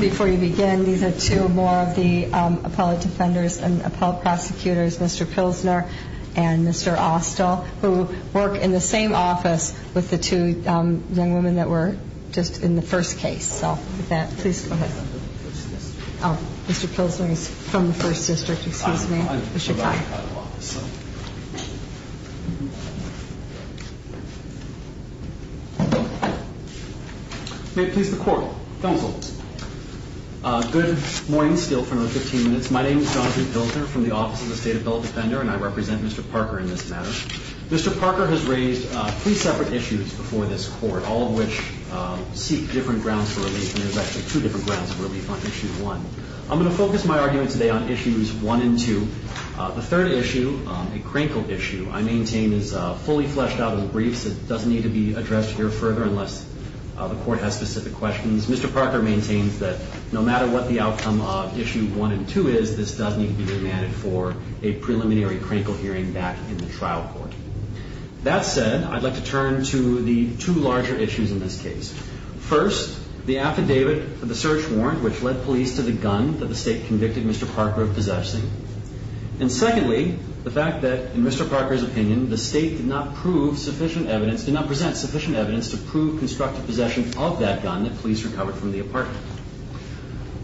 Before you begin, these are two more of the appellate defenders and appellate prosecutors, Mr. Pilsner and Mr. Austell, who work in the same office with the two young women that were just in the first case. So with that, please go ahead. Oh, Mr. Pilsner is from the First District, excuse me. May it please the Court. Counsel. Good morning, still for another 15 minutes. My name is Jonathan Pilsner from the Office of the State Appellate Defender, and I represent Mr. Parker in this matter. Mr. Parker has raised three separate issues before this Court, all of which seek different grounds for relief, and there's actually two different grounds for relief on Issue 1. I'm going to focus my argument today on Issues 1 and 2. The third issue, a crankled issue, I maintain is fully fleshed out in the briefs. It doesn't need to be addressed here further unless the Court has specific questions. Mr. Parker maintains that no matter what the outcome of Issue 1 and 2 is, this does need to be remanded for a preliminary critical hearing back in the trial court. That said, I'd like to turn to the two larger issues in this case. First, the affidavit for the search warrant, which led police to the gun that the State convicted Mr. Parker of possessing. And secondly, the fact that, in Mr. Parker's opinion, the State did not present sufficient evidence to prove constructive possession of that gun that police recovered from the apartment.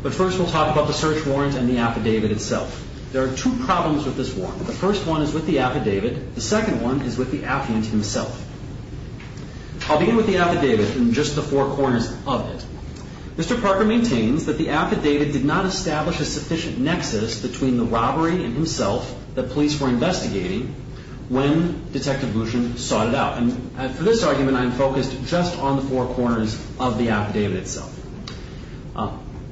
But first we'll talk about the search warrant and the affidavit itself. There are two problems with this warrant. The first one is with the affidavit. The second one is with the affidavit himself. I'll begin with the affidavit and just the four corners of it. Mr. Parker maintains that the affidavit did not establish a sufficient nexus between the robbery and himself that police were investigating when Detective Bouchon sought it out. And for this argument, I am focused just on the four corners of the affidavit itself.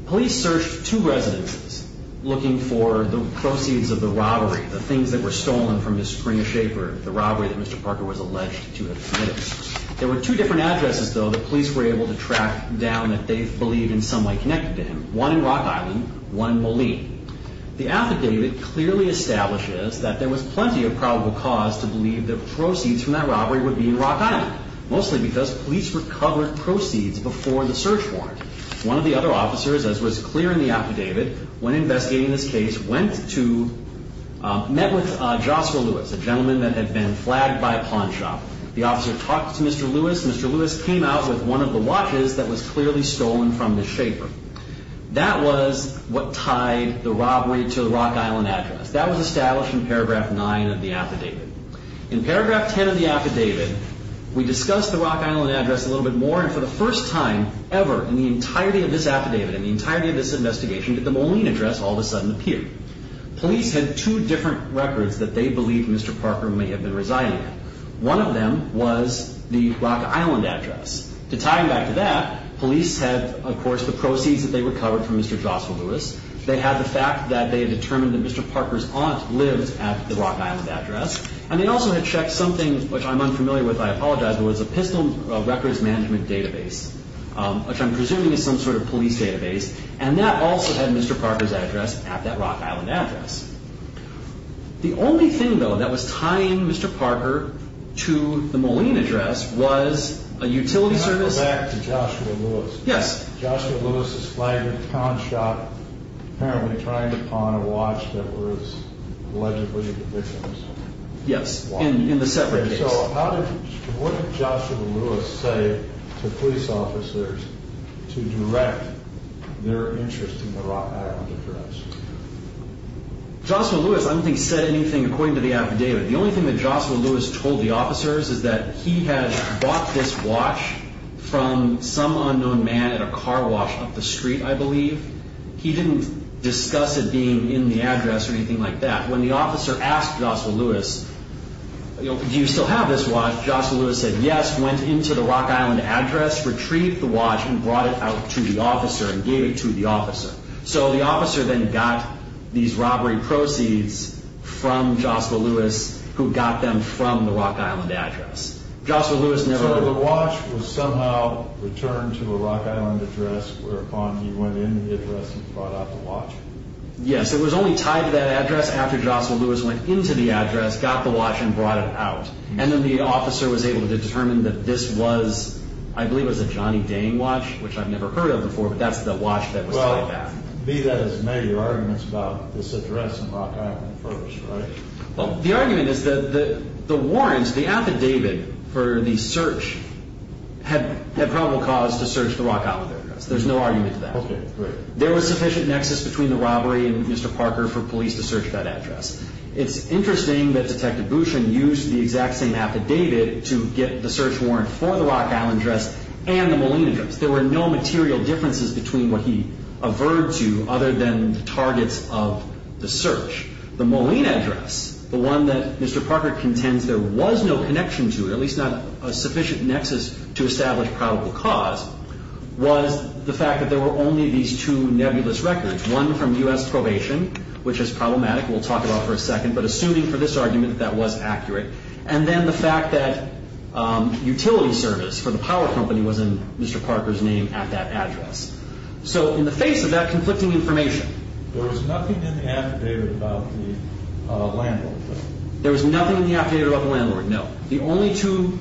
Police searched two residences looking for the proceeds of the robbery, the things that were stolen from his Springer Shaper, the robbery that Mr. Parker was alleged to have committed. There were two different addresses, though, that police were able to track down that they believe in some way connected to him. One in Rock Island, one in Boleen. The affidavit clearly establishes that there was plenty of probable cause to believe that proceeds from that robbery would be in Rock Island, mostly because police recovered proceeds before the search warrant. One of the other officers, as was clear in the affidavit, when investigating this case, went to – met with Joshua Lewis, a gentleman that had been flagged by a pawn shop. The officer talked to Mr. Lewis. Mr. Lewis came out with one of the watches that was clearly stolen from the Shaper. That was what tied the robbery to the Rock Island address. That was established in Paragraph 9 of the affidavit. In Paragraph 10 of the affidavit, we discussed the Rock Island address a little bit more. And for the first time ever in the entirety of this affidavit, in the entirety of this investigation, did the Boleen address all of a sudden appear. Police had two different records that they believed Mr. Parker may have been residing in. One of them was the Rock Island address. To tie him back to that, police had, of course, the proceeds that they recovered from Mr. Joshua Lewis. They had the fact that they had determined that Mr. Parker's aunt lived at the Rock Island address. And they also had checked something which I'm unfamiliar with. I apologize. It was a pistol records management database, which I'm presuming is some sort of police database. And that also had Mr. Parker's address at that Rock Island address. The only thing, though, that was tying Mr. Parker to the Boleen address was a utility service. Can I go back to Joshua Lewis? Yes. Joshua Lewis is flagged with townshot, apparently trying to pawn a watch that was allegedly the victim's watch. Yes, in the separate case. So what did Joshua Lewis say to police officers to direct their interest in the Rock Island address? Joshua Lewis, I don't think, said anything according to the affidavit. The only thing that Joshua Lewis told the officers is that he had bought this watch from some unknown man at a car wash up the street, I believe. He didn't discuss it being in the address or anything like that. When the officer asked Joshua Lewis, you know, do you still have this watch? Joshua Lewis said yes, went into the Rock Island address, retrieved the watch, and brought it out to the officer and gave it to the officer. So the officer then got these robbery proceeds from Joshua Lewis, who got them from the Rock Island address. Joshua Lewis never... So the watch was somehow returned to a Rock Island address, whereupon he went into the address and brought out the watch. Yes, it was only tied to that address after Joshua Lewis went into the address, got the watch, and brought it out. And then the officer was able to determine that this was, I believe it was a Johnny Dang watch, which I've never heard of before, but that's the watch that was tied to that. Well, be that as it may, your argument's about this address and Rock Island first, right? Well, the argument is that the warrants, the affidavit for the search, had probable cause to search the Rock Island address. There's no argument to that. Okay, great. There was sufficient nexus between the robbery and Mr. Parker for police to search that address. It's interesting that Detective Bouchon used the exact same affidavit to get the search warrant for the Rock Island address and the Molina address. There were no material differences between what he averred to other than the targets of the search. The Molina address, the one that Mr. Parker contends there was no connection to, at least not a sufficient nexus to establish probable cause, was the fact that there were only these two nebulous records, one from U.S. probation, which is problematic, we'll talk about for a second, but assuming for this argument that that was accurate. And then the fact that utility service for the power company was in Mr. Parker's name at that address. So in the face of that conflicting information. There was nothing in the affidavit about the landlord. There was nothing in the affidavit about the landlord, no. The only two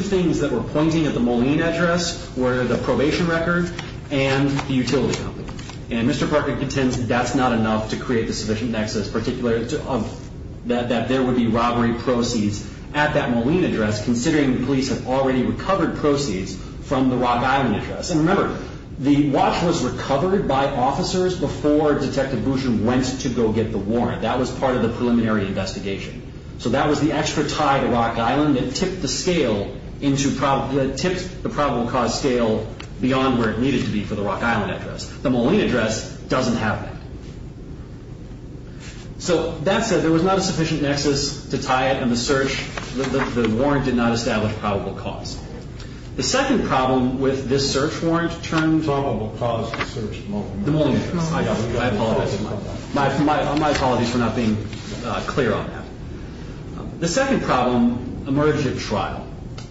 things that were pointing at the Molina address were the probation record and the utility company. And Mr. Parker contends that that's not enough to create the sufficient nexus, particularly that there would be robbery proceeds at that Molina address, considering the police have already recovered proceeds from the Rock Island address. And remember, the watch was recovered by officers before Detective Bouchon went to go get the warrant. That was part of the preliminary investigation. So that was the extra tie to Rock Island that tipped the probable cause scale beyond where it needed to be for the Rock Island address. The Molina address doesn't have that. So that said, there was not a sufficient nexus to tie it in the search. The warrant did not establish probable cause. The second problem with this search warrant turns out to be the Molina address. My apologies for not being clear on that. The second problem emerged at trial.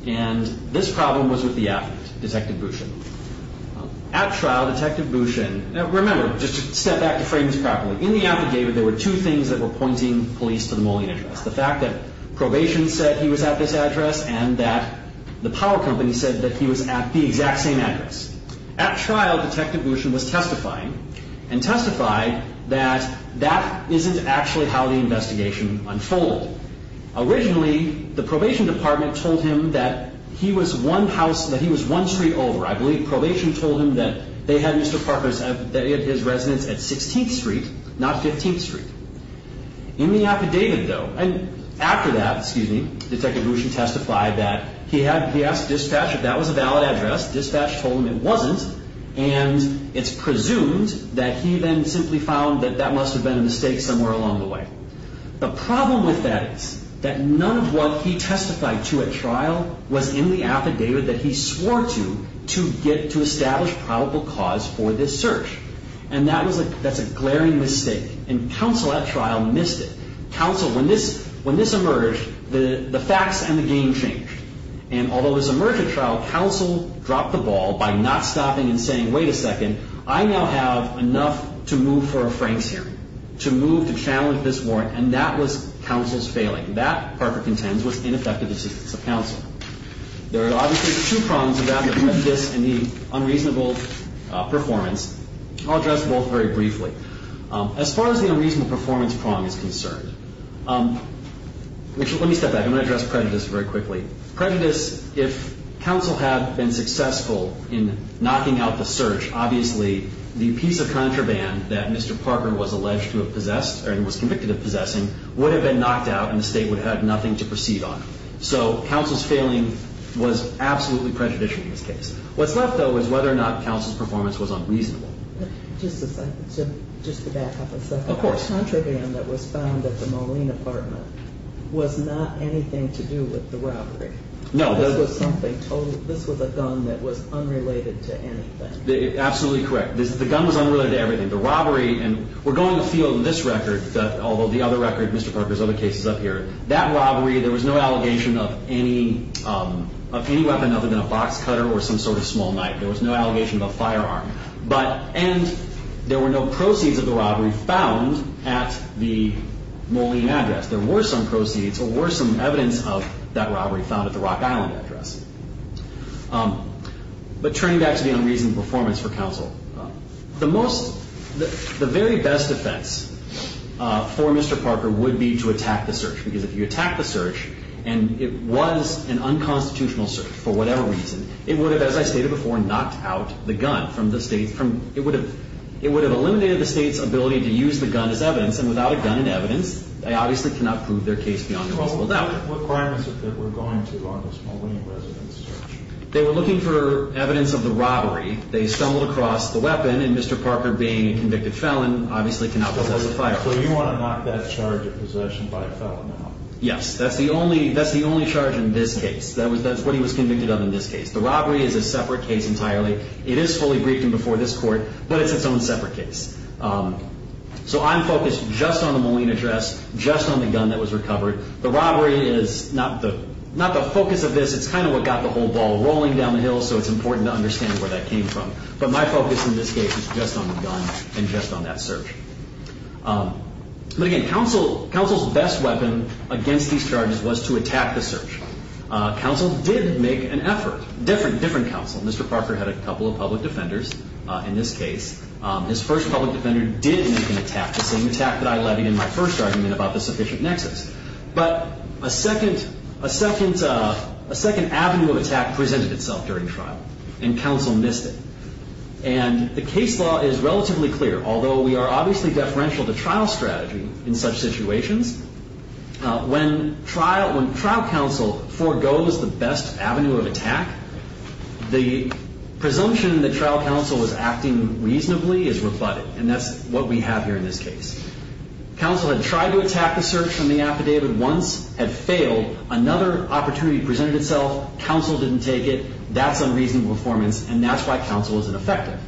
And this problem was with the affidavit, Detective Bouchon. At trial, Detective Bouchon, now remember, just to step back the frames properly, in the affidavit there were two things that were pointing police to the Molina address. The fact that probation said he was at this address and that the power company said that he was at the exact same address. At trial, Detective Bouchon was testifying and testified that that isn't actually how the investigation unfolded. Originally, the probation department told him that he was one house, that he was one street over. I believe probation told him that they had Mr. Parker's, that he had his residence at 16th Street, not 15th Street. In the affidavit though, after that, Detective Bouchon testified that he asked dispatch if that was a valid address. Dispatch told him it wasn't. And it's presumed that he then simply found that that must have been a mistake somewhere along the way. The problem with that is that none of what he testified to at trial was in the affidavit that he swore to, to establish probable cause for this search. And that's a glaring mistake. And counsel at trial missed it. Counsel, when this emerged, the facts and the game changed. And although this emerged at trial, counsel dropped the ball by not stopping and saying, wait a second, I now have enough to move for a Franks hearing, to move to challenge this warrant. And that was counsel's failing. That, Parker contends, was ineffective assistance of counsel. There are obviously two prongs to that, the prejudice and the unreasonable performance. I'll address both very briefly. As far as the unreasonable performance prong is concerned, let me step back. I'm going to address prejudice very quickly. Prejudice, if counsel had been successful in knocking out the search, obviously the piece of contraband that Mr. Parker was alleged to have possessed or was convicted of possessing would have been knocked out and the state would have had nothing to proceed on. So counsel's failing was absolutely prejudicial in this case. What's left, though, is whether or not counsel's performance was unreasonable. Just to back up a second. Of course. The contraband that was found at the Moline apartment was not anything to do with the robbery. No. This was a gun that was unrelated to anything. Absolutely correct. The gun was unrelated to everything. The robbery, and we're going to feel in this record, although the other record, Mr. Parker's other case is up here, that robbery, there was no allegation of any weapon other than a box cutter or some sort of small knife. There was no allegation of a firearm. And there were no proceeds of the robbery found at the Moline address. There were some proceeds or were some evidence of that robbery found at the Rock Island address. But turning back to the unreasonable performance for counsel, the very best defense for Mr. Parker would be to attack the search, because if you attack the search and it was an unconstitutional search for whatever reason, it would have, as I stated before, knocked out the gun from the state. It would have eliminated the state's ability to use the gun as evidence, and without a gun in evidence, they obviously cannot prove their case beyond a possible doubt. What crime is it that we're going to on this Moline residence search? They were looking for evidence of the robbery. They stumbled across the weapon, and Mr. Parker, being a convicted felon, obviously cannot possess the firearm. So you want to knock that charge of possession by a felon out. Yes. That's the only charge in this case. That's what he was convicted of in this case. The robbery is a separate case entirely. It is fully briefed and before this court, but it's its own separate case. So I'm focused just on the Moline address, just on the gun that was recovered. The robbery is not the focus of this. It's kind of what got the whole ball rolling down the hill, so it's important to understand where that came from. But my focus in this case is just on the gun and just on that search. But again, counsel's best weapon against these charges was to attack the search. Counsel did make an effort. Different counsel. Mr. Parker had a couple of public defenders in this case. His first public defender did make an attack, the same attack that I levied in my first argument about the sufficient nexus. But a second avenue of attack presented itself during trial, and counsel missed it. And the case law is relatively clear, although we are obviously deferential to trial strategy in such situations. When trial counsel forgoes the best avenue of attack, the presumption that trial counsel was acting reasonably is rebutted. And that's what we have here in this case. Counsel had tried to attack the search from the affidavit once, had failed. Another opportunity presented itself. Counsel didn't take it. That's unreasonable performance, and that's why counsel isn't effective.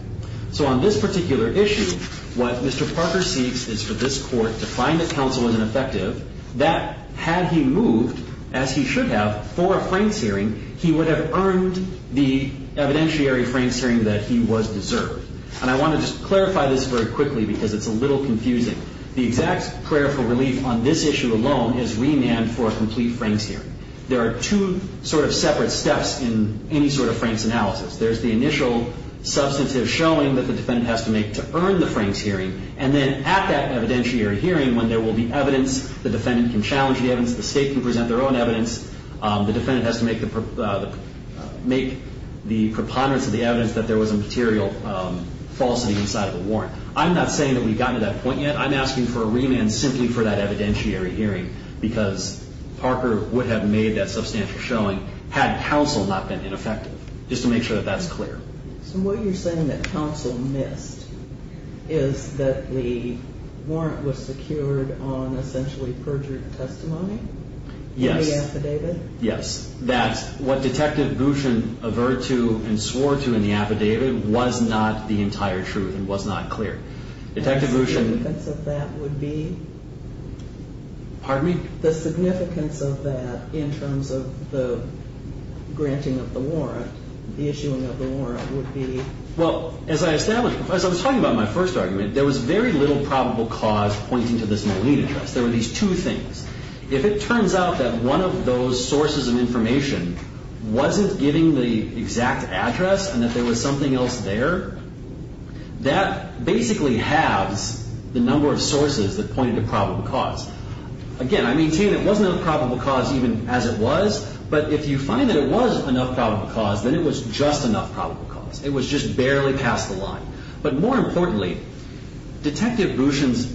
So on this particular issue, what Mr. Parker seeks is for this court to find that counsel isn't effective, that had he moved, as he should have, for a Franks hearing, he would have earned the evidentiary Franks hearing that he was deserved. And I want to just clarify this very quickly because it's a little confusing. The exact prayer for relief on this issue alone is remand for a complete Franks hearing. There are two sort of separate steps in any sort of Franks analysis. There's the initial substantive showing that the defendant has to make to earn the Franks hearing, and then at that evidentiary hearing when there will be evidence, the defendant can challenge the evidence, the state can present their own evidence, the defendant has to make the preponderance of the evidence that there was a material falsity inside of a warrant. I'm not saying that we've gotten to that point yet. I'm asking for a remand simply for that evidentiary hearing because Parker would have made that substantial showing had counsel not been ineffective, just to make sure that that's clear. So what you're saying that counsel missed is that the warrant was secured on essentially perjured testimony? In the affidavit? Yes. That what Detective Bouchon averred to and swore to in the affidavit was not the entire truth and was not clear. The significance of that would be? Pardon me? The significance of that in terms of the granting of the warrant, the issuing of the warrant would be? Well, as I established, as I was talking about my first argument, there was very little probable cause pointing to this Moline address. There were these two things. If it turns out that one of those sources of information wasn't giving the exact address and that there was something else there, that basically halves the number of sources that pointed to probable cause. Again, I maintain it wasn't enough probable cause even as it was, but if you find that it was enough probable cause, then it was just enough probable cause. It was just barely past the line. But more importantly, Detective Bouchon's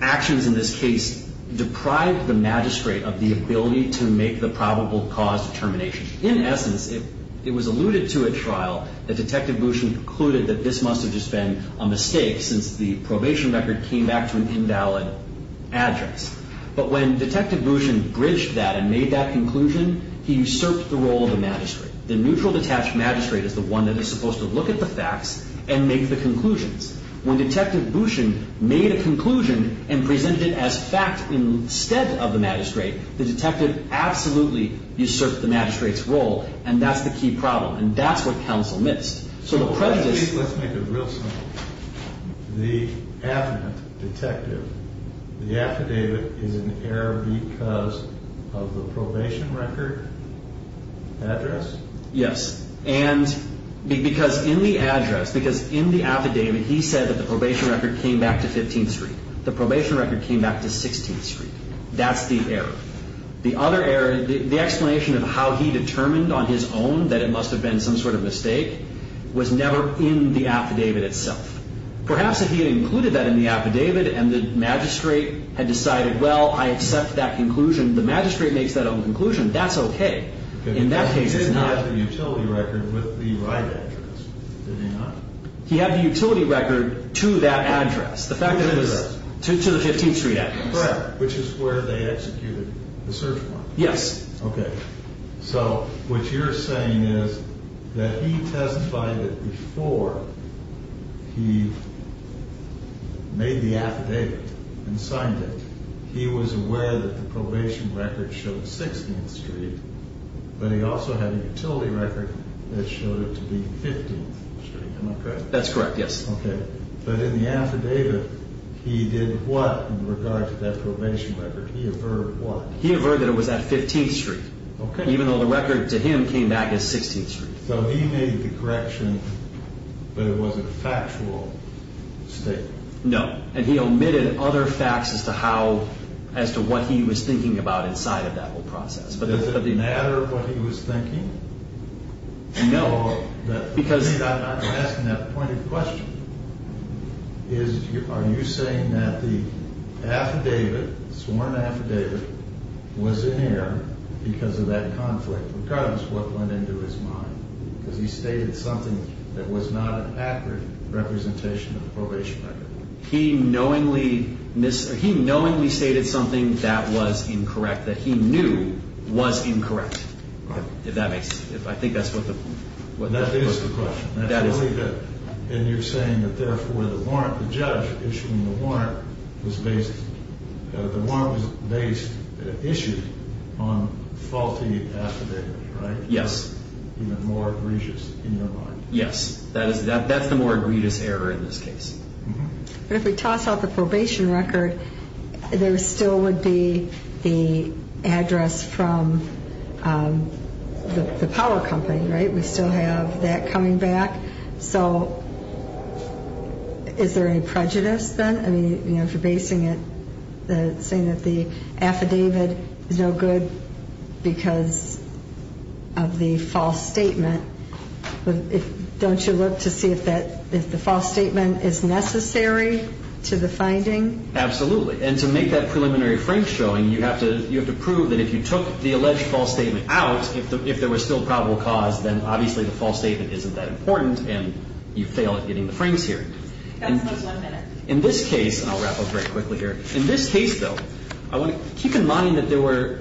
actions in this case deprived the magistrate of the ability to make the probable cause determination. In essence, it was alluded to at trial that Detective Bouchon concluded that this must have just been a mistake since the probation record came back to an invalid address. But when Detective Bouchon bridged that and made that conclusion, he usurped the role of the magistrate. The neutral, detached magistrate is the one that is supposed to look at the facts and make the conclusions. When Detective Bouchon made a conclusion and presented it as fact instead of the magistrate, the detective absolutely usurped the magistrate's role, and that's the key problem, and that's what counsel missed. Let's make it real simple. The affidavit, Detective, the affidavit is in error because of the probation record address? Yes. And because in the address, because in the affidavit, he said that the probation record came back to 15th Street. The probation record came back to 16th Street. That's the error. The other error, the explanation of how he determined on his own that it must have been some sort of mistake was never in the affidavit itself. Perhaps if he had included that in the affidavit and the magistrate had decided, well, I accept that conclusion, the magistrate makes that own conclusion, that's okay. In that case, it's not. He did have the utility record with the right address, did he not? He had the utility record to that address, the fact that it was to the 15th Street address. Correct, which is where they executed the search warrant. Yes. Okay. So what you're saying is that he testified that before he made the affidavit and signed it, he was aware that the probation record showed 16th Street, but he also had a utility record that showed it to be 15th Street. Am I correct? That's correct, yes. Okay. But in the affidavit, he did what in regard to that probation record? He averred what? He averred that it was at 15th Street, even though the record to him came back as 16th Street. So he made the correction, but it was a factual statement. No. And he omitted other facts as to what he was thinking about inside of that whole process. Does it matter what he was thinking? No. I'm asking that pointed question. Are you saying that the affidavit, sworn affidavit, was in error because of that conflict, regardless of what went into his mind, because he stated something that was not an accurate representation of the probation record? He knowingly stated something that was incorrect, that he knew was incorrect. I think that's what the question is. That is the question. And you're saying that, therefore, the warrant, the judge issuing the warrant, the warrant was based, issued on faulty affidavit, right? Yes. Even more egregious in your mind. Yes. That's the more egregious error in this case. But if we toss out the probation record, there still would be the address from the power company, right? We still have that coming back. So is there any prejudice then? I mean, if you're basing it, saying that the affidavit is no good because of the false statement, don't you look to see if the false statement is necessary to the finding? Absolutely. And to make that preliminary frame showing, you have to prove that if you took the alleged false statement out, if there was still probable cause, then obviously the false statement isn't that important and you fail at getting the frames here. That's the last one minute. In this case, and I'll wrap up very quickly here, in this case, though, I want to keep in mind that there were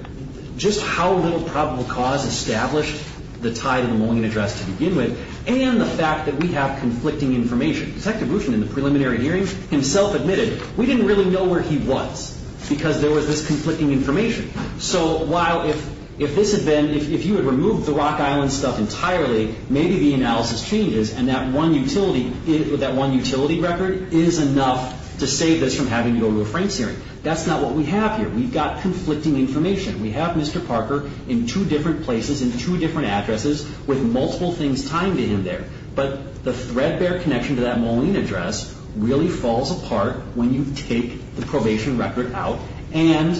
just how little probable cause established the tie to the Moline address to begin with, and the fact that we have conflicting information. Detective Bouchon, in the preliminary hearing, himself admitted, we didn't really know where he was because there was this conflicting information. So while if this had been, if you had removed the Rock Island stuff entirely, maybe the analysis changes and that one utility record is enough to save us from having to go to a frames hearing. That's not what we have here. We've got conflicting information. We have Mr. Parker in two different places, in two different addresses, with multiple things tying to him there. But the threadbare connection to that Moline address really falls apart when you take the probation record out and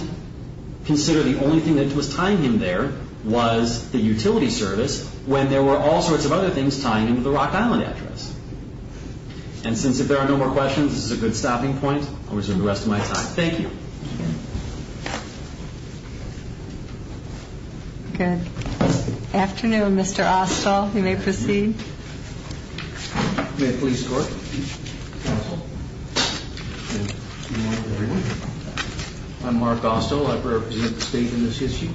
consider the only thing that was tying him there was the utility service when there were all sorts of other things tying him to the Rock Island address. And since if there are no more questions, this is a good stopping point, I'll resume the rest of my time. Thank you. Good. Afternoon, Mr. Ostall. You may proceed. May I please start? I'm Mark Ostall. I represent the state in this issue.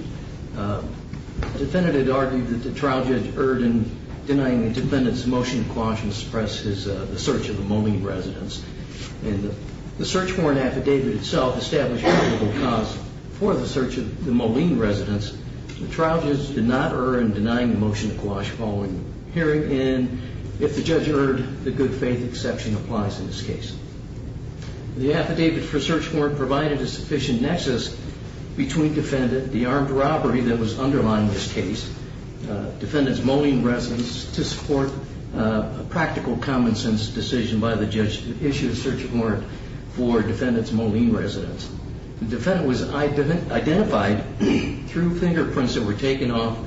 The defendant had argued that the trial judge Erdin denying the defendant's motion to quash and suppress the search of the Moline residence. And the search warrant affidavit itself established a probable cause for the search of the Moline residence. The trial judge did not err in denying the motion to quash following hearing, and if the judge erred, the good faith exception applies in this case. The affidavit for search warrant provided a sufficient nexus between defendant, the armed robbery that was underlying this case, defendant's Moline residence, to support a practical common sense decision by the judge to issue a search warrant for defendant's Moline residence. The defendant was identified through fingerprints that were taken off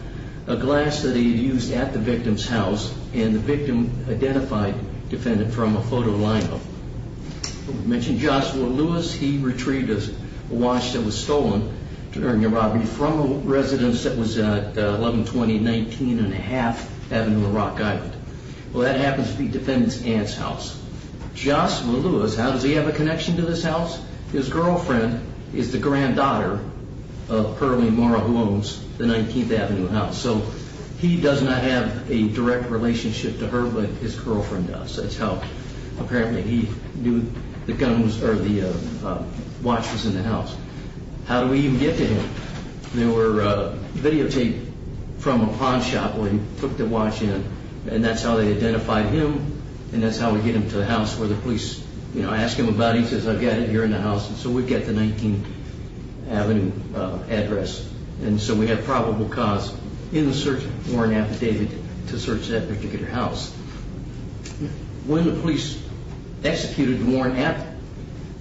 a glass that he had used at the victim's house, and the victim identified defendant from a photo lineup. We mentioned Joshua Lewis. He retrieved a watch that was stolen during a robbery from a residence that was at 1120 19 1⁄2 Avenue in Rock Island. Well, that happens to be defendant's aunt's house. Joshua Lewis, how does he have a connection to this house? His girlfriend is the granddaughter of Pearlie Morrow, who owns the 19th Avenue house. So he does not have a direct relationship to her, but his girlfriend does. Apparently he knew the watch was in the house. How do we even get to him? There were videotapes from a pawn shop where he put the watch in, and that's how they identified him, and that's how we get him to the house where the police ask him about it. He says, I've got it here in the house, and so we get the 19th Avenue address. And so we have probable cause in the search warrant affidavit to search that particular house. When the police executed the warrant at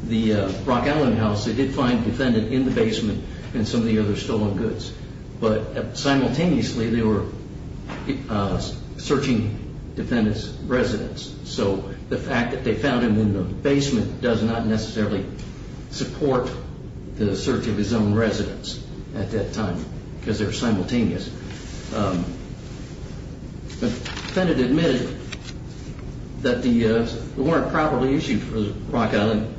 the Rock Island house, they did find defendant in the basement and some of the other stolen goods, but simultaneously they were searching defendant's residence. So the fact that they found him in the basement does not necessarily support the search of his own residence at that time, because they're simultaneous. The defendant admitted that the warrant probably issued for the Rock Island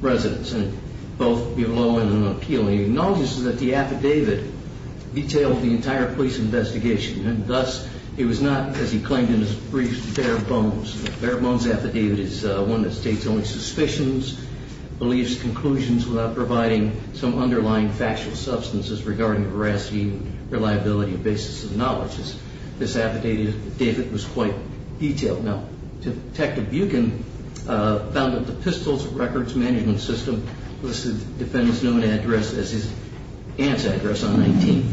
residence, both below and on appeal. He acknowledges that the affidavit detailed the entire police investigation, and thus it was not, as he claimed in his brief, bare bones. The bare bones affidavit is one that states only suspicions, beliefs, conclusions, without providing some underlying factual substances regarding veracity, reliability, basis of knowledge. This affidavit was quite detailed. Now, Detective Buchan found that the pistols records management system listed defendant's known address as his aunt's address on 19th.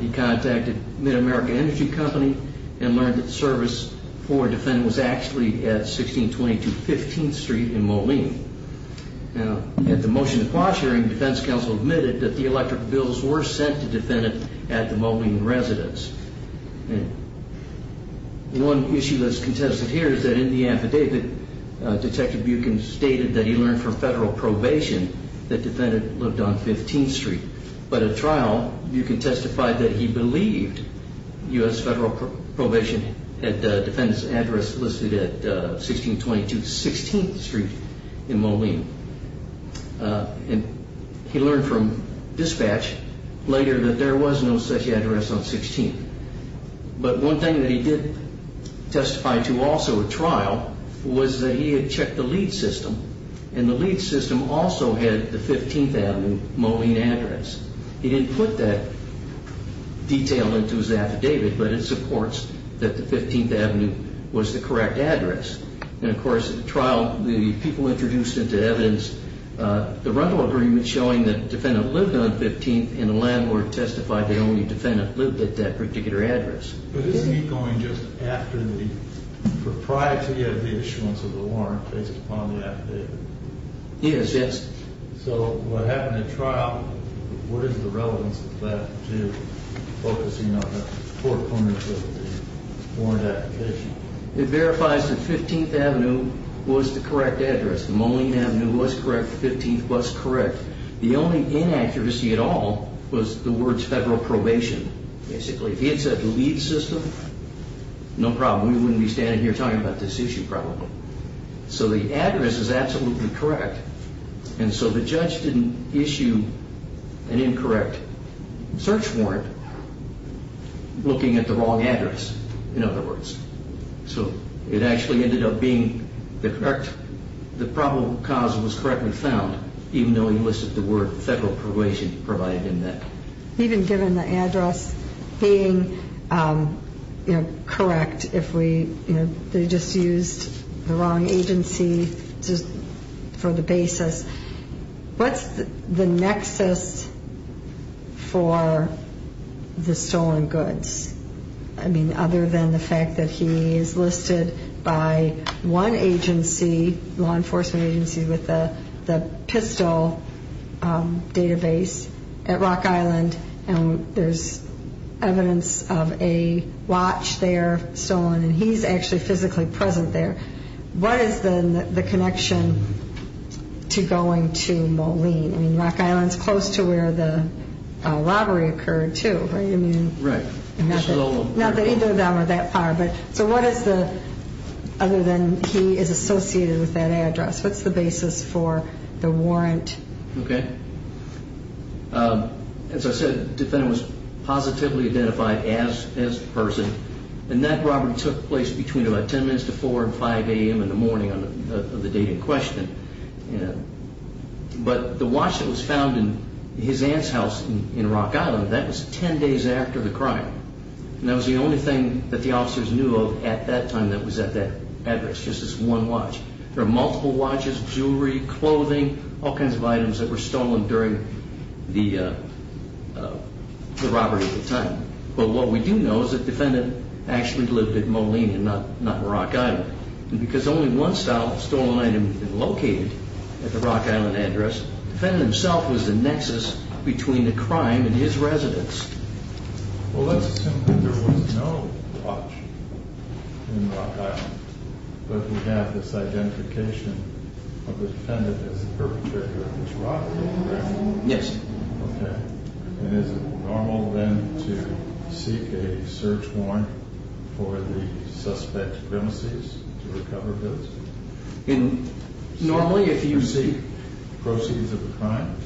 He contacted Mid-America Energy Company and learned that service for defendant was actually at 1622 15th Street in Moline. Now, at the motion to quash hearing, defense counsel admitted that the electric bills were sent to defendant at the Moline residence. One issue that's contested here is that in the affidavit, Detective Buchan stated that he learned from federal probation that defendant lived on 15th Street. But at trial, you can testify that he believed U.S. federal probation had defendant's address listed at 1622 16th Street in Moline. And he learned from dispatch later that there was no such address on 16th. But one thing that he did testify to also at trial was that he had checked the lead system, and the lead system also had the 15th Avenue Moline address. He didn't put that detail into his affidavit, but it supports that the 15th Avenue was the correct address. And, of course, at trial, the people introduced into evidence the rental agreement showing that defendant lived on 15th, and the landlord testified the only defendant lived at that particular address. But isn't he going just after the propriety of the issuance of the warrant based upon the affidavit? Yes, yes. So what happened at trial, what is the relevance of that to focusing on the four corners of the warrant application? It verifies the 15th Avenue was the correct address. The Moline Avenue was correct. The 15th was correct. The only inaccuracy at all was the words federal probation, basically. If it's at the lead system, no problem. We wouldn't be standing here talking about this issue, probably. So the address is absolutely correct. And so the judge didn't issue an incorrect search warrant looking at the wrong address, in other words. So it actually ended up being the correct, the probable cause was correctly found, even though he listed the word federal probation provided in that. Even given the address being correct, if they just used the wrong agency for the basis, what's the nexus for the stolen goods? I mean, other than the fact that he is listed by one agency, law enforcement agency with the PISTOL database at Rock Island, and there's evidence of a watch there stolen, and he's actually physically present there, what is the connection to going to Moline? I mean, Rock Island is close to where the robbery occurred, too, right? Right. Not that either of them are that far. So what is the, other than he is associated with that address, what's the basis for the warrant? Okay. As I said, the defendant was positively identified as the person, and that robbery took place between about 10 minutes to 4 and 5 a.m. in the morning of the date in question. But the watch that was found in his aunt's house in Rock Island, that was 10 days after the crime. And that was the only thing that the officers knew of at that time that was at that address, just this one watch. There are multiple watches, jewelry, clothing, all kinds of items that were stolen during the robbery at the time. But what we do know is that the defendant actually lived at Moline and not Rock Island. And because only one stolen item had been located at the Rock Island address, the defendant himself was the nexus between the crime and his residence. Well, let's assume that there was no watch in Rock Island, but we have this identification of the defendant as the perpetrator of this robbery, correct? Yes. Okay. And is it normal then to seek a search warrant for the suspect's premises to recover goods? Normally, if you seek... Proceeds of the crime?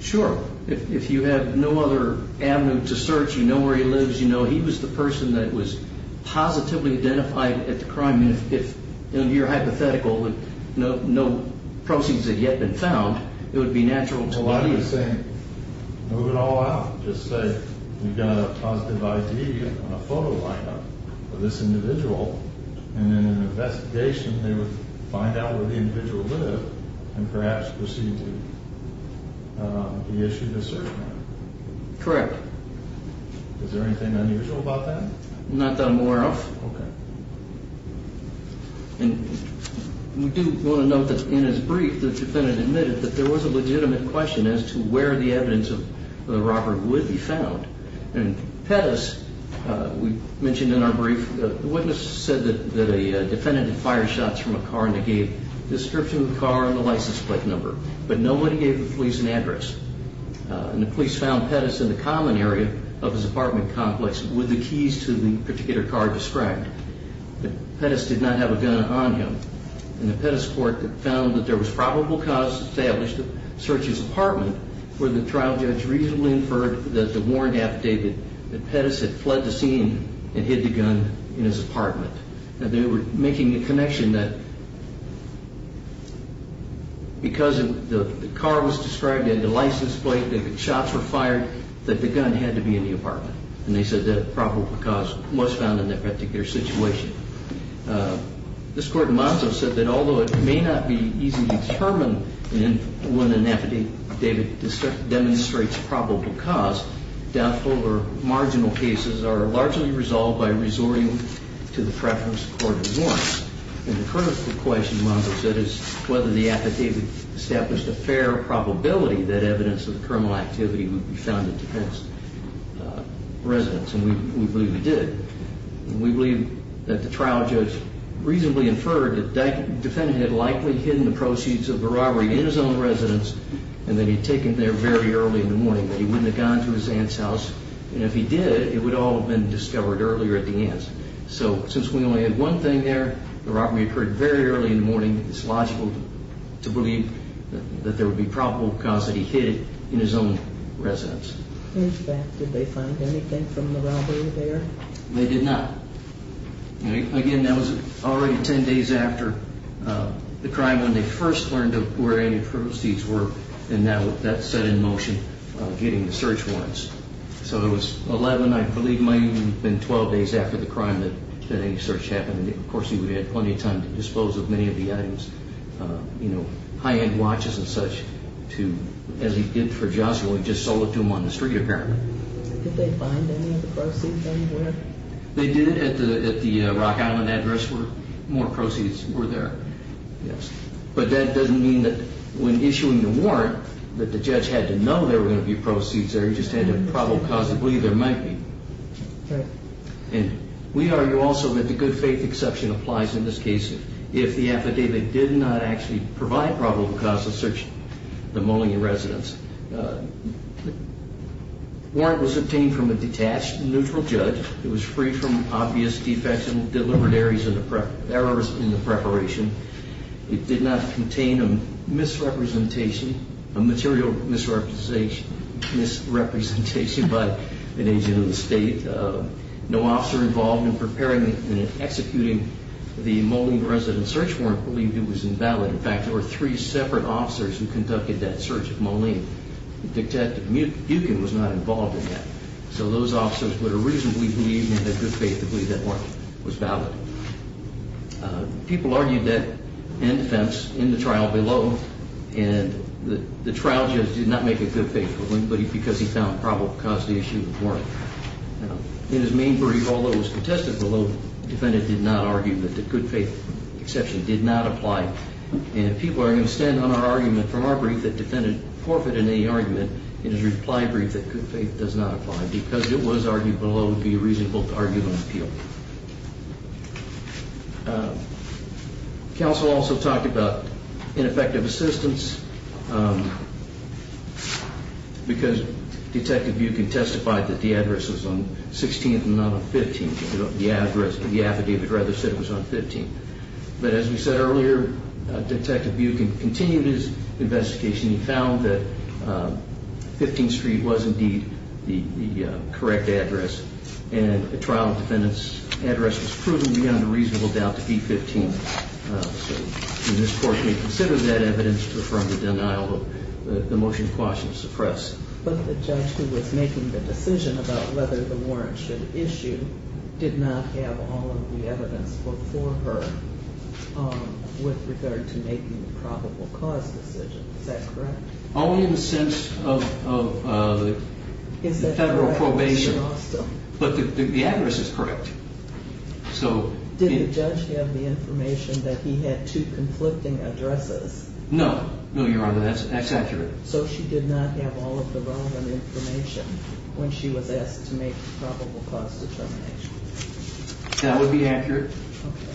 Sure. If you have no other avenue to search, you know where he lives, you know he was the person that was positively identified at the crime. And if, under your hypothetical, no proceeds had yet been found, it would be natural to... Well, I'm just saying, move it all out. Just say, we've got a positive ID on a photo lineup of this individual. And in an investigation, they would find out where the individual lived and perhaps proceed with the issue to search warrant. Correct. Is there anything unusual about that? Not that I'm aware of. Okay. And we do want to note that in his brief, the defendant admitted that there was a legitimate question as to where the evidence of the robbery would be found. And Pettis, we mentioned in our brief, the witness said that a defendant had fired shots from a car and they gave a description of the car and the license plate number, but nobody gave the police an address. And the police found Pettis in the common area of his apartment complex with the keys to the particular car described. But Pettis did not have a gun on him. And the Pettis court found that there was probable cause to establish the search of his apartment where the trial judge reasonably inferred that the warrant affidavit that Pettis had fled the scene and hid the gun in his apartment. And they were making the connection that because the car was described in the license plate, that the shots were fired, that the gun had to be in the apartment. And they said that a probable cause was found in that particular situation. This court in Monzo said that although it may not be easy to determine when an affidavit demonstrates probable cause, doubtful or marginal cases are largely resolved by resorting to the preference of court of warrants. And the critical question, Monzo said, is whether the affidavit established a fair probability that evidence of the criminal activity would be found in Pettis' residence. And we believe it did. And we believe that the trial judge reasonably inferred that that defendant had likely hidden the proceeds of the robbery in his own residence and that he'd taken there very early in the morning, that he wouldn't have gone to his aunt's house. And if he did, it would all have been discovered earlier at the aunt's. So since we only had one thing there, the robbery occurred very early in the morning, it's logical to believe that there would be probable cause that he hid it in his own residence. In fact, did they find anything from the robbery there? They did not. Again, that was already 10 days after the crime when they first learned of where any of the proceeds were, and that set in motion getting the search warrants. So it was 11, I believe it might even have been 12 days after the crime that any search happened. Of course, he would have had plenty of time to dispose of many of the items, high-end watches and such, as he did for Joshua. He just sold it to him on the street, apparently. Did they find any of the proceeds anywhere? They did at the Rock Island address where more proceeds were there, yes. But that doesn't mean that when issuing the warrant that the judge had to know there were going to be proceeds there. He just had to have probable cause to believe there might be. Right. And we argue also that the good faith exception applies in this case. If the affidavit did not actually provide probable cause to search the Moline residence. The warrant was obtained from a detached, neutral judge. It was free from obvious defects and deliberate errors in the preparation. It did not contain a misrepresentation, a material misrepresentation by an agent of the state. No officer involved in preparing and executing the Moline residence search warrant believed it was invalid. In fact, there were three separate officers who conducted that search of Moline. Detective Buchan was not involved in that. So those officers would have reasonably believed and had good faith to believe that warrant was valid. People argued that in defense in the trial below. And the trial judge did not make a good faith ruling, but because he found probable cause to issue the warrant. In his main brief, although it was contested below, the defendant did not argue that the good faith exception did not apply. And people are going to stand on our argument from our brief that the defendant forfeited any argument in his reply brief that good faith does not apply. Because it was argued below, it would be reasonable to argue and appeal. Counsel also talked about ineffective assistance because Detective Buchan testified that the address was on 16th and not on 15th. The address, the affidavit rather said it was on 15th. But as we said earlier, Detective Buchan continued his investigation. He found that 15th Street was indeed the correct address. And the trial defendant's address was proven beyond a reasonable doubt to be 15th. So this court may consider that evidence to affirm the denial of the motion to quash and suppress. But the judge who was making the decision about whether the warrant should issue did not have all of the evidence before her with regard to making the probable cause decision. Is that correct? Only in the sense of federal probation. But the address is correct. So did the judge have the information that he had two conflicting addresses? No, no, Your Honor. That's accurate. So she did not have all of the relevant information when she was asked to make probable cause determination. That would be accurate.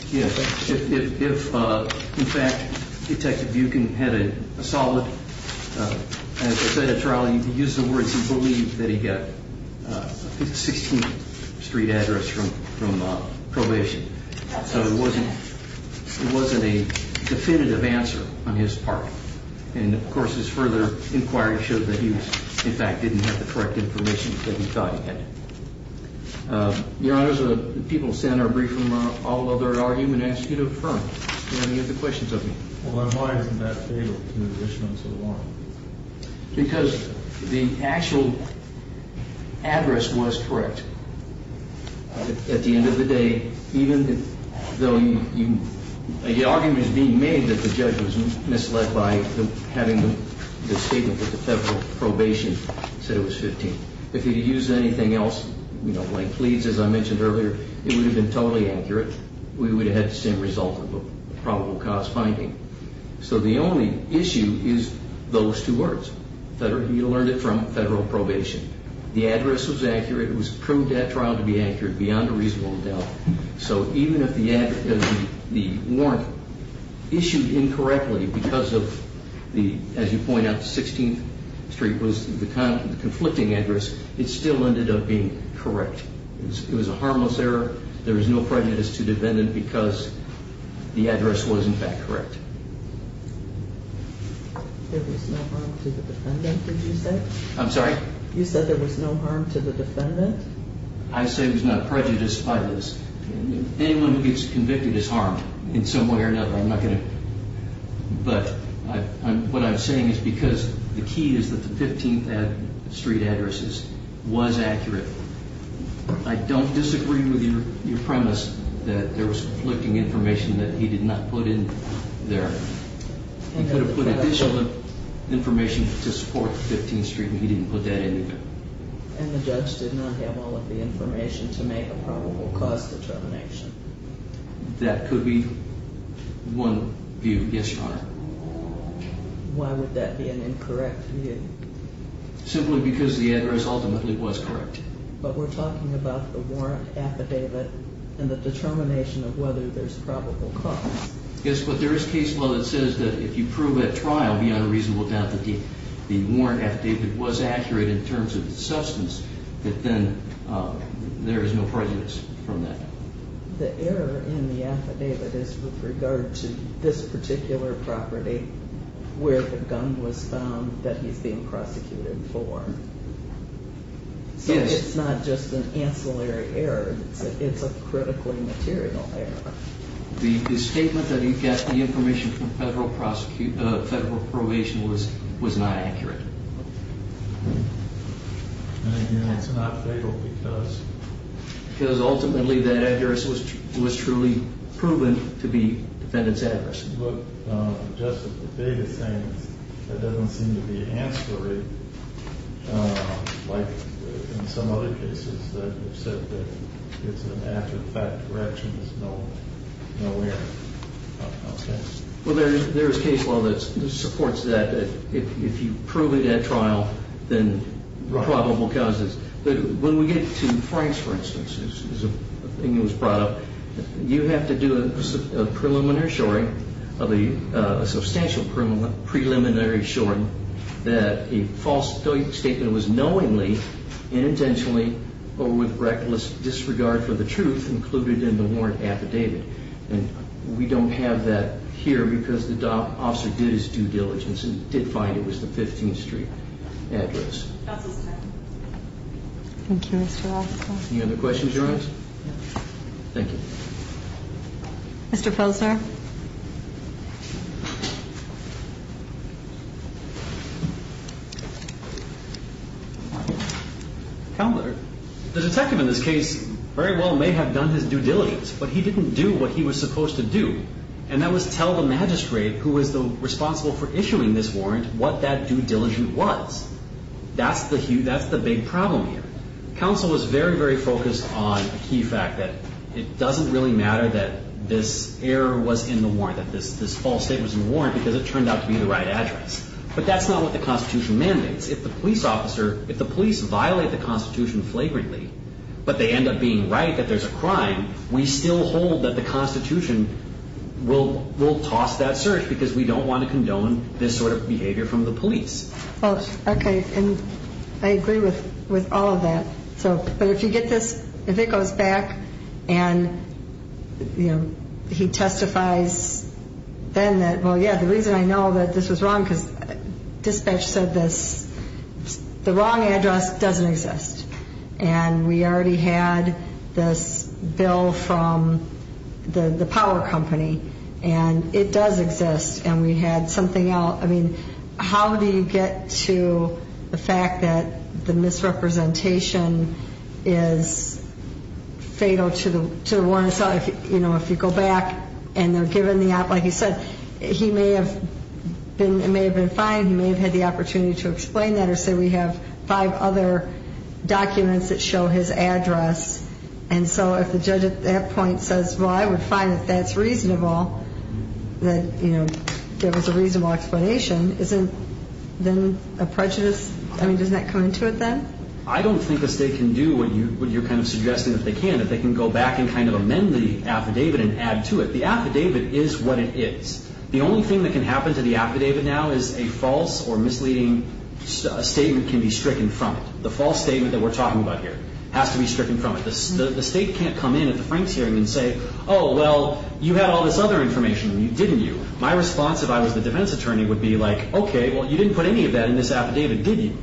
Yes. In fact, Detective Buchan had a solid, as I said at trial, he used the words he believed that he got 16th Street address from probation. So it wasn't a definitive answer on his part. And, of course, his further inquiry showed that he, in fact, didn't have the correct information that he thought he had. Your Honor, the people who sat in our briefing room are all of their argument as to who to affirm. Do you have any other questions of me? Well, then why isn't that fatal to the issuance of the warrant? Because the actual address was correct. At the end of the day, even though the argument is being made that the judge was misled by having the statement that the federal probation said it was 15th. If he had used anything else, you know, like pleads, as I mentioned earlier, it would have been totally accurate. We would have had the same result of a probable cause finding. So the only issue is those two words. You learned it from federal probation. The address was accurate. It proved at trial to be accurate beyond a reasonable doubt. So even if the warrant issued incorrectly because of the, as you point out, 16th Street was the conflicting address, it still ended up being correct. It was a harmless error. There was no prejudice to the defendant because the address was, in fact, correct. There was no harm to the defendant, did you say? I'm sorry? You said there was no harm to the defendant? I say there was no prejudice by this. Anyone who gets convicted is harmed in some way or another. I'm not going to, but what I'm saying is because the key is that the 15th Street addresses was accurate. I don't disagree with your premise that there was conflicting information that he did not put in there. He could have put additional information to support 15th Street, but he didn't put that in either. And the judge did not have all of the information to make a probable cause determination. That could be one view, yes, Your Honor. Why would that be an incorrect view? Simply because the address ultimately was correct. But we're talking about the warrant affidavit and the determination of whether there's probable cause. Yes, but there is case law that says that if you prove at trial beyond a reasonable doubt that the warrant affidavit was accurate in terms of its substance, that then there is no prejudice from that. The error in the affidavit is with regard to this particular property where the gun was found that he's being prosecuted for. So it's not just an ancillary error. It's a critically material error. The statement that he got the information from federal probation was not accurate. And again, it's not fatal because? Because ultimately that address was truly proven to be the defendant's address. Just the biggest thing that doesn't seem to be ancillary, like in some other cases that have said that it's an after-the-fact correction, there's no error. Well, there is case law that supports that. If you prove it at trial, then probable causes. But when we get to Frank's, for instance, a thing that was brought up, you have to do a preliminary assuring, a substantial preliminary assuring, that a false statement was knowingly, unintentionally, or with reckless disregard for the truth included in the warrant affidavit. And we don't have that here because the officer did his due diligence and did find it was the 15th Street address. Counsel's time. Thank you, Mr. Roscoe. Any other questions, Your Honor? No. Thank you. Mr. Posner. Counselor, the detective in this case very well may have done his due diligence, but he didn't do what he was supposed to do. And that was tell the magistrate who was responsible for issuing this warrant what that due diligence was. That's the big problem here. Counsel was very, very focused on the key fact that it doesn't really matter that this error was in the warrant, that this false statement was in the warrant because it turned out to be the right address. But that's not what the Constitution mandates. If the police officer, if the police violate the Constitution flagrantly, but they end up being right that there's a crime, we still hold that the Constitution will toss that search because we don't want to condone this sort of behavior from the police. Okay. And I agree with all of that. But if you get this, if it goes back and, you know, he testifies then that, well, yeah, the reason I know that this was wrong because dispatch said this, the wrong address doesn't exist. And we already had this bill from the power company, and it does exist, and we had something else. I mean, how do you get to the fact that the misrepresentation is fatal to the warrant? So, you know, if you go back and they're given the, like you said, he may have been, it may have been fine. He may have had the opportunity to explain that or say we have five other documents that show his address. And so if the judge at that point says, well, I would find that that's reasonable, that, you know, give us a reasonable explanation, isn't then a prejudice? I mean, doesn't that come into it then? I don't think the state can do what you're kind of suggesting that they can. If they can go back and kind of amend the affidavit and add to it. The affidavit is what it is. The only thing that can happen to the affidavit now is a false or misleading statement can be stricken from it. The false statement that we're talking about here has to be stricken from it. The state can't come in at the Franks hearing and say, oh, well, you had all this other information, didn't you? My response if I was the defense attorney would be like, okay, well, you didn't put any of that in this affidavit, did you?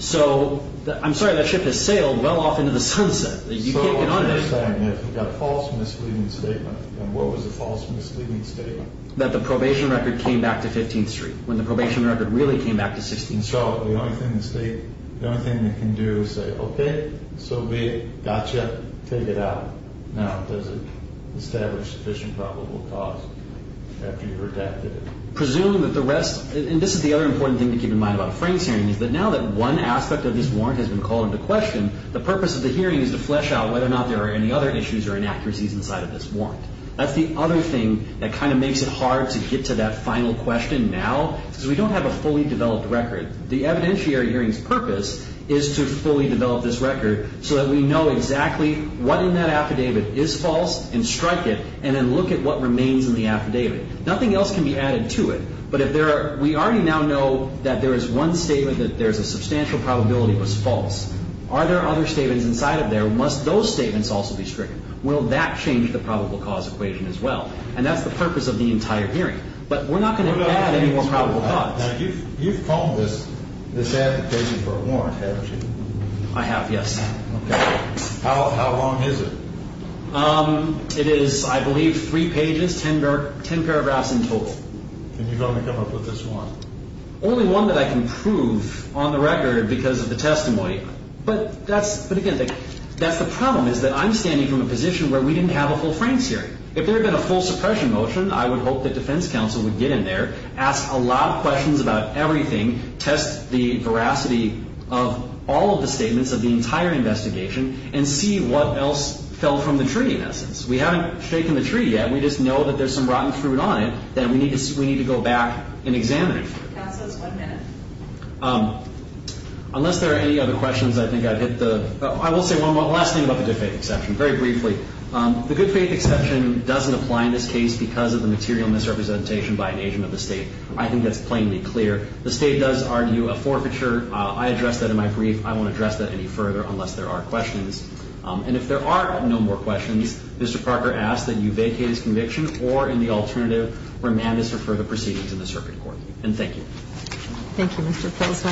So I'm sorry, that ship has sailed well off into the sunset. You can't get on it. So what you're saying is if you've got a false misleading statement, then what was the false misleading statement? That the probation record came back to 15th Street when the probation record really came back to 16th Street. And so the only thing the state, the only thing they can do is say, okay, so we got you, take it out. Now does it establish sufficient probable cause after you've redacted it? Presuming that the rest, and this is the other important thing to keep in mind about a Franks hearing, is that now that one aspect of this warrant has been called into question, the purpose of the hearing is to flesh out whether or not there are any other issues or inaccuracies inside of this warrant. That's the other thing that kind of makes it hard to get to that final question now because we don't have a fully developed record. The evidentiary hearing's purpose is to fully develop this record so that we know exactly what in that affidavit is false and strike it and then look at what remains in the affidavit. Nothing else can be added to it. But if there are, we already now know that there is one statement that there is a substantial probability it was false. Are there other statements inside of there? Must those statements also be stricken? Will that change the probable cause equation as well? And that's the purpose of the entire hearing. But we're not going to add any more probable cause. Now, you've called this application for a warrant, haven't you? I have, yes. Okay. How long is it? It is, I believe, three pages, ten paragraphs in total. And you've only come up with this one? Only one that I can prove on the record because of the testimony. But again, that's the problem, is that I'm standing from a position where we didn't have a full Franks hearing. If there had been a full suppression motion, I would hope that defense counsel would get in there, ask a lot of questions about everything, test the veracity of all of the statements of the entire investigation, and see what else fell from the tree, in essence. We haven't shaken the tree yet. We just know that there's some rotten fruit on it that we need to go back and examine. Counsel, it's one minute. Unless there are any other questions, I think I've hit the – I will say one last thing about the good faith exception, very briefly. The good faith exception doesn't apply in this case because of the material misrepresentation by an agent of the State. I think that's plainly clear. The State does argue a forfeiture. I addressed that in my brief. I won't address that any further unless there are questions. And if there are no more questions, Mr. Parker asks that you vacate his conviction or, in the alternative, remand us for further proceedings in the circuit court. And thank you. Thank you, Mr. Pilsner.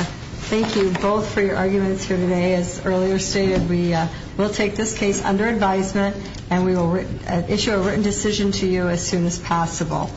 Thank you both for your arguments here today. As earlier stated, we will take this case under advisement and we will issue a written decision to you as soon as possible.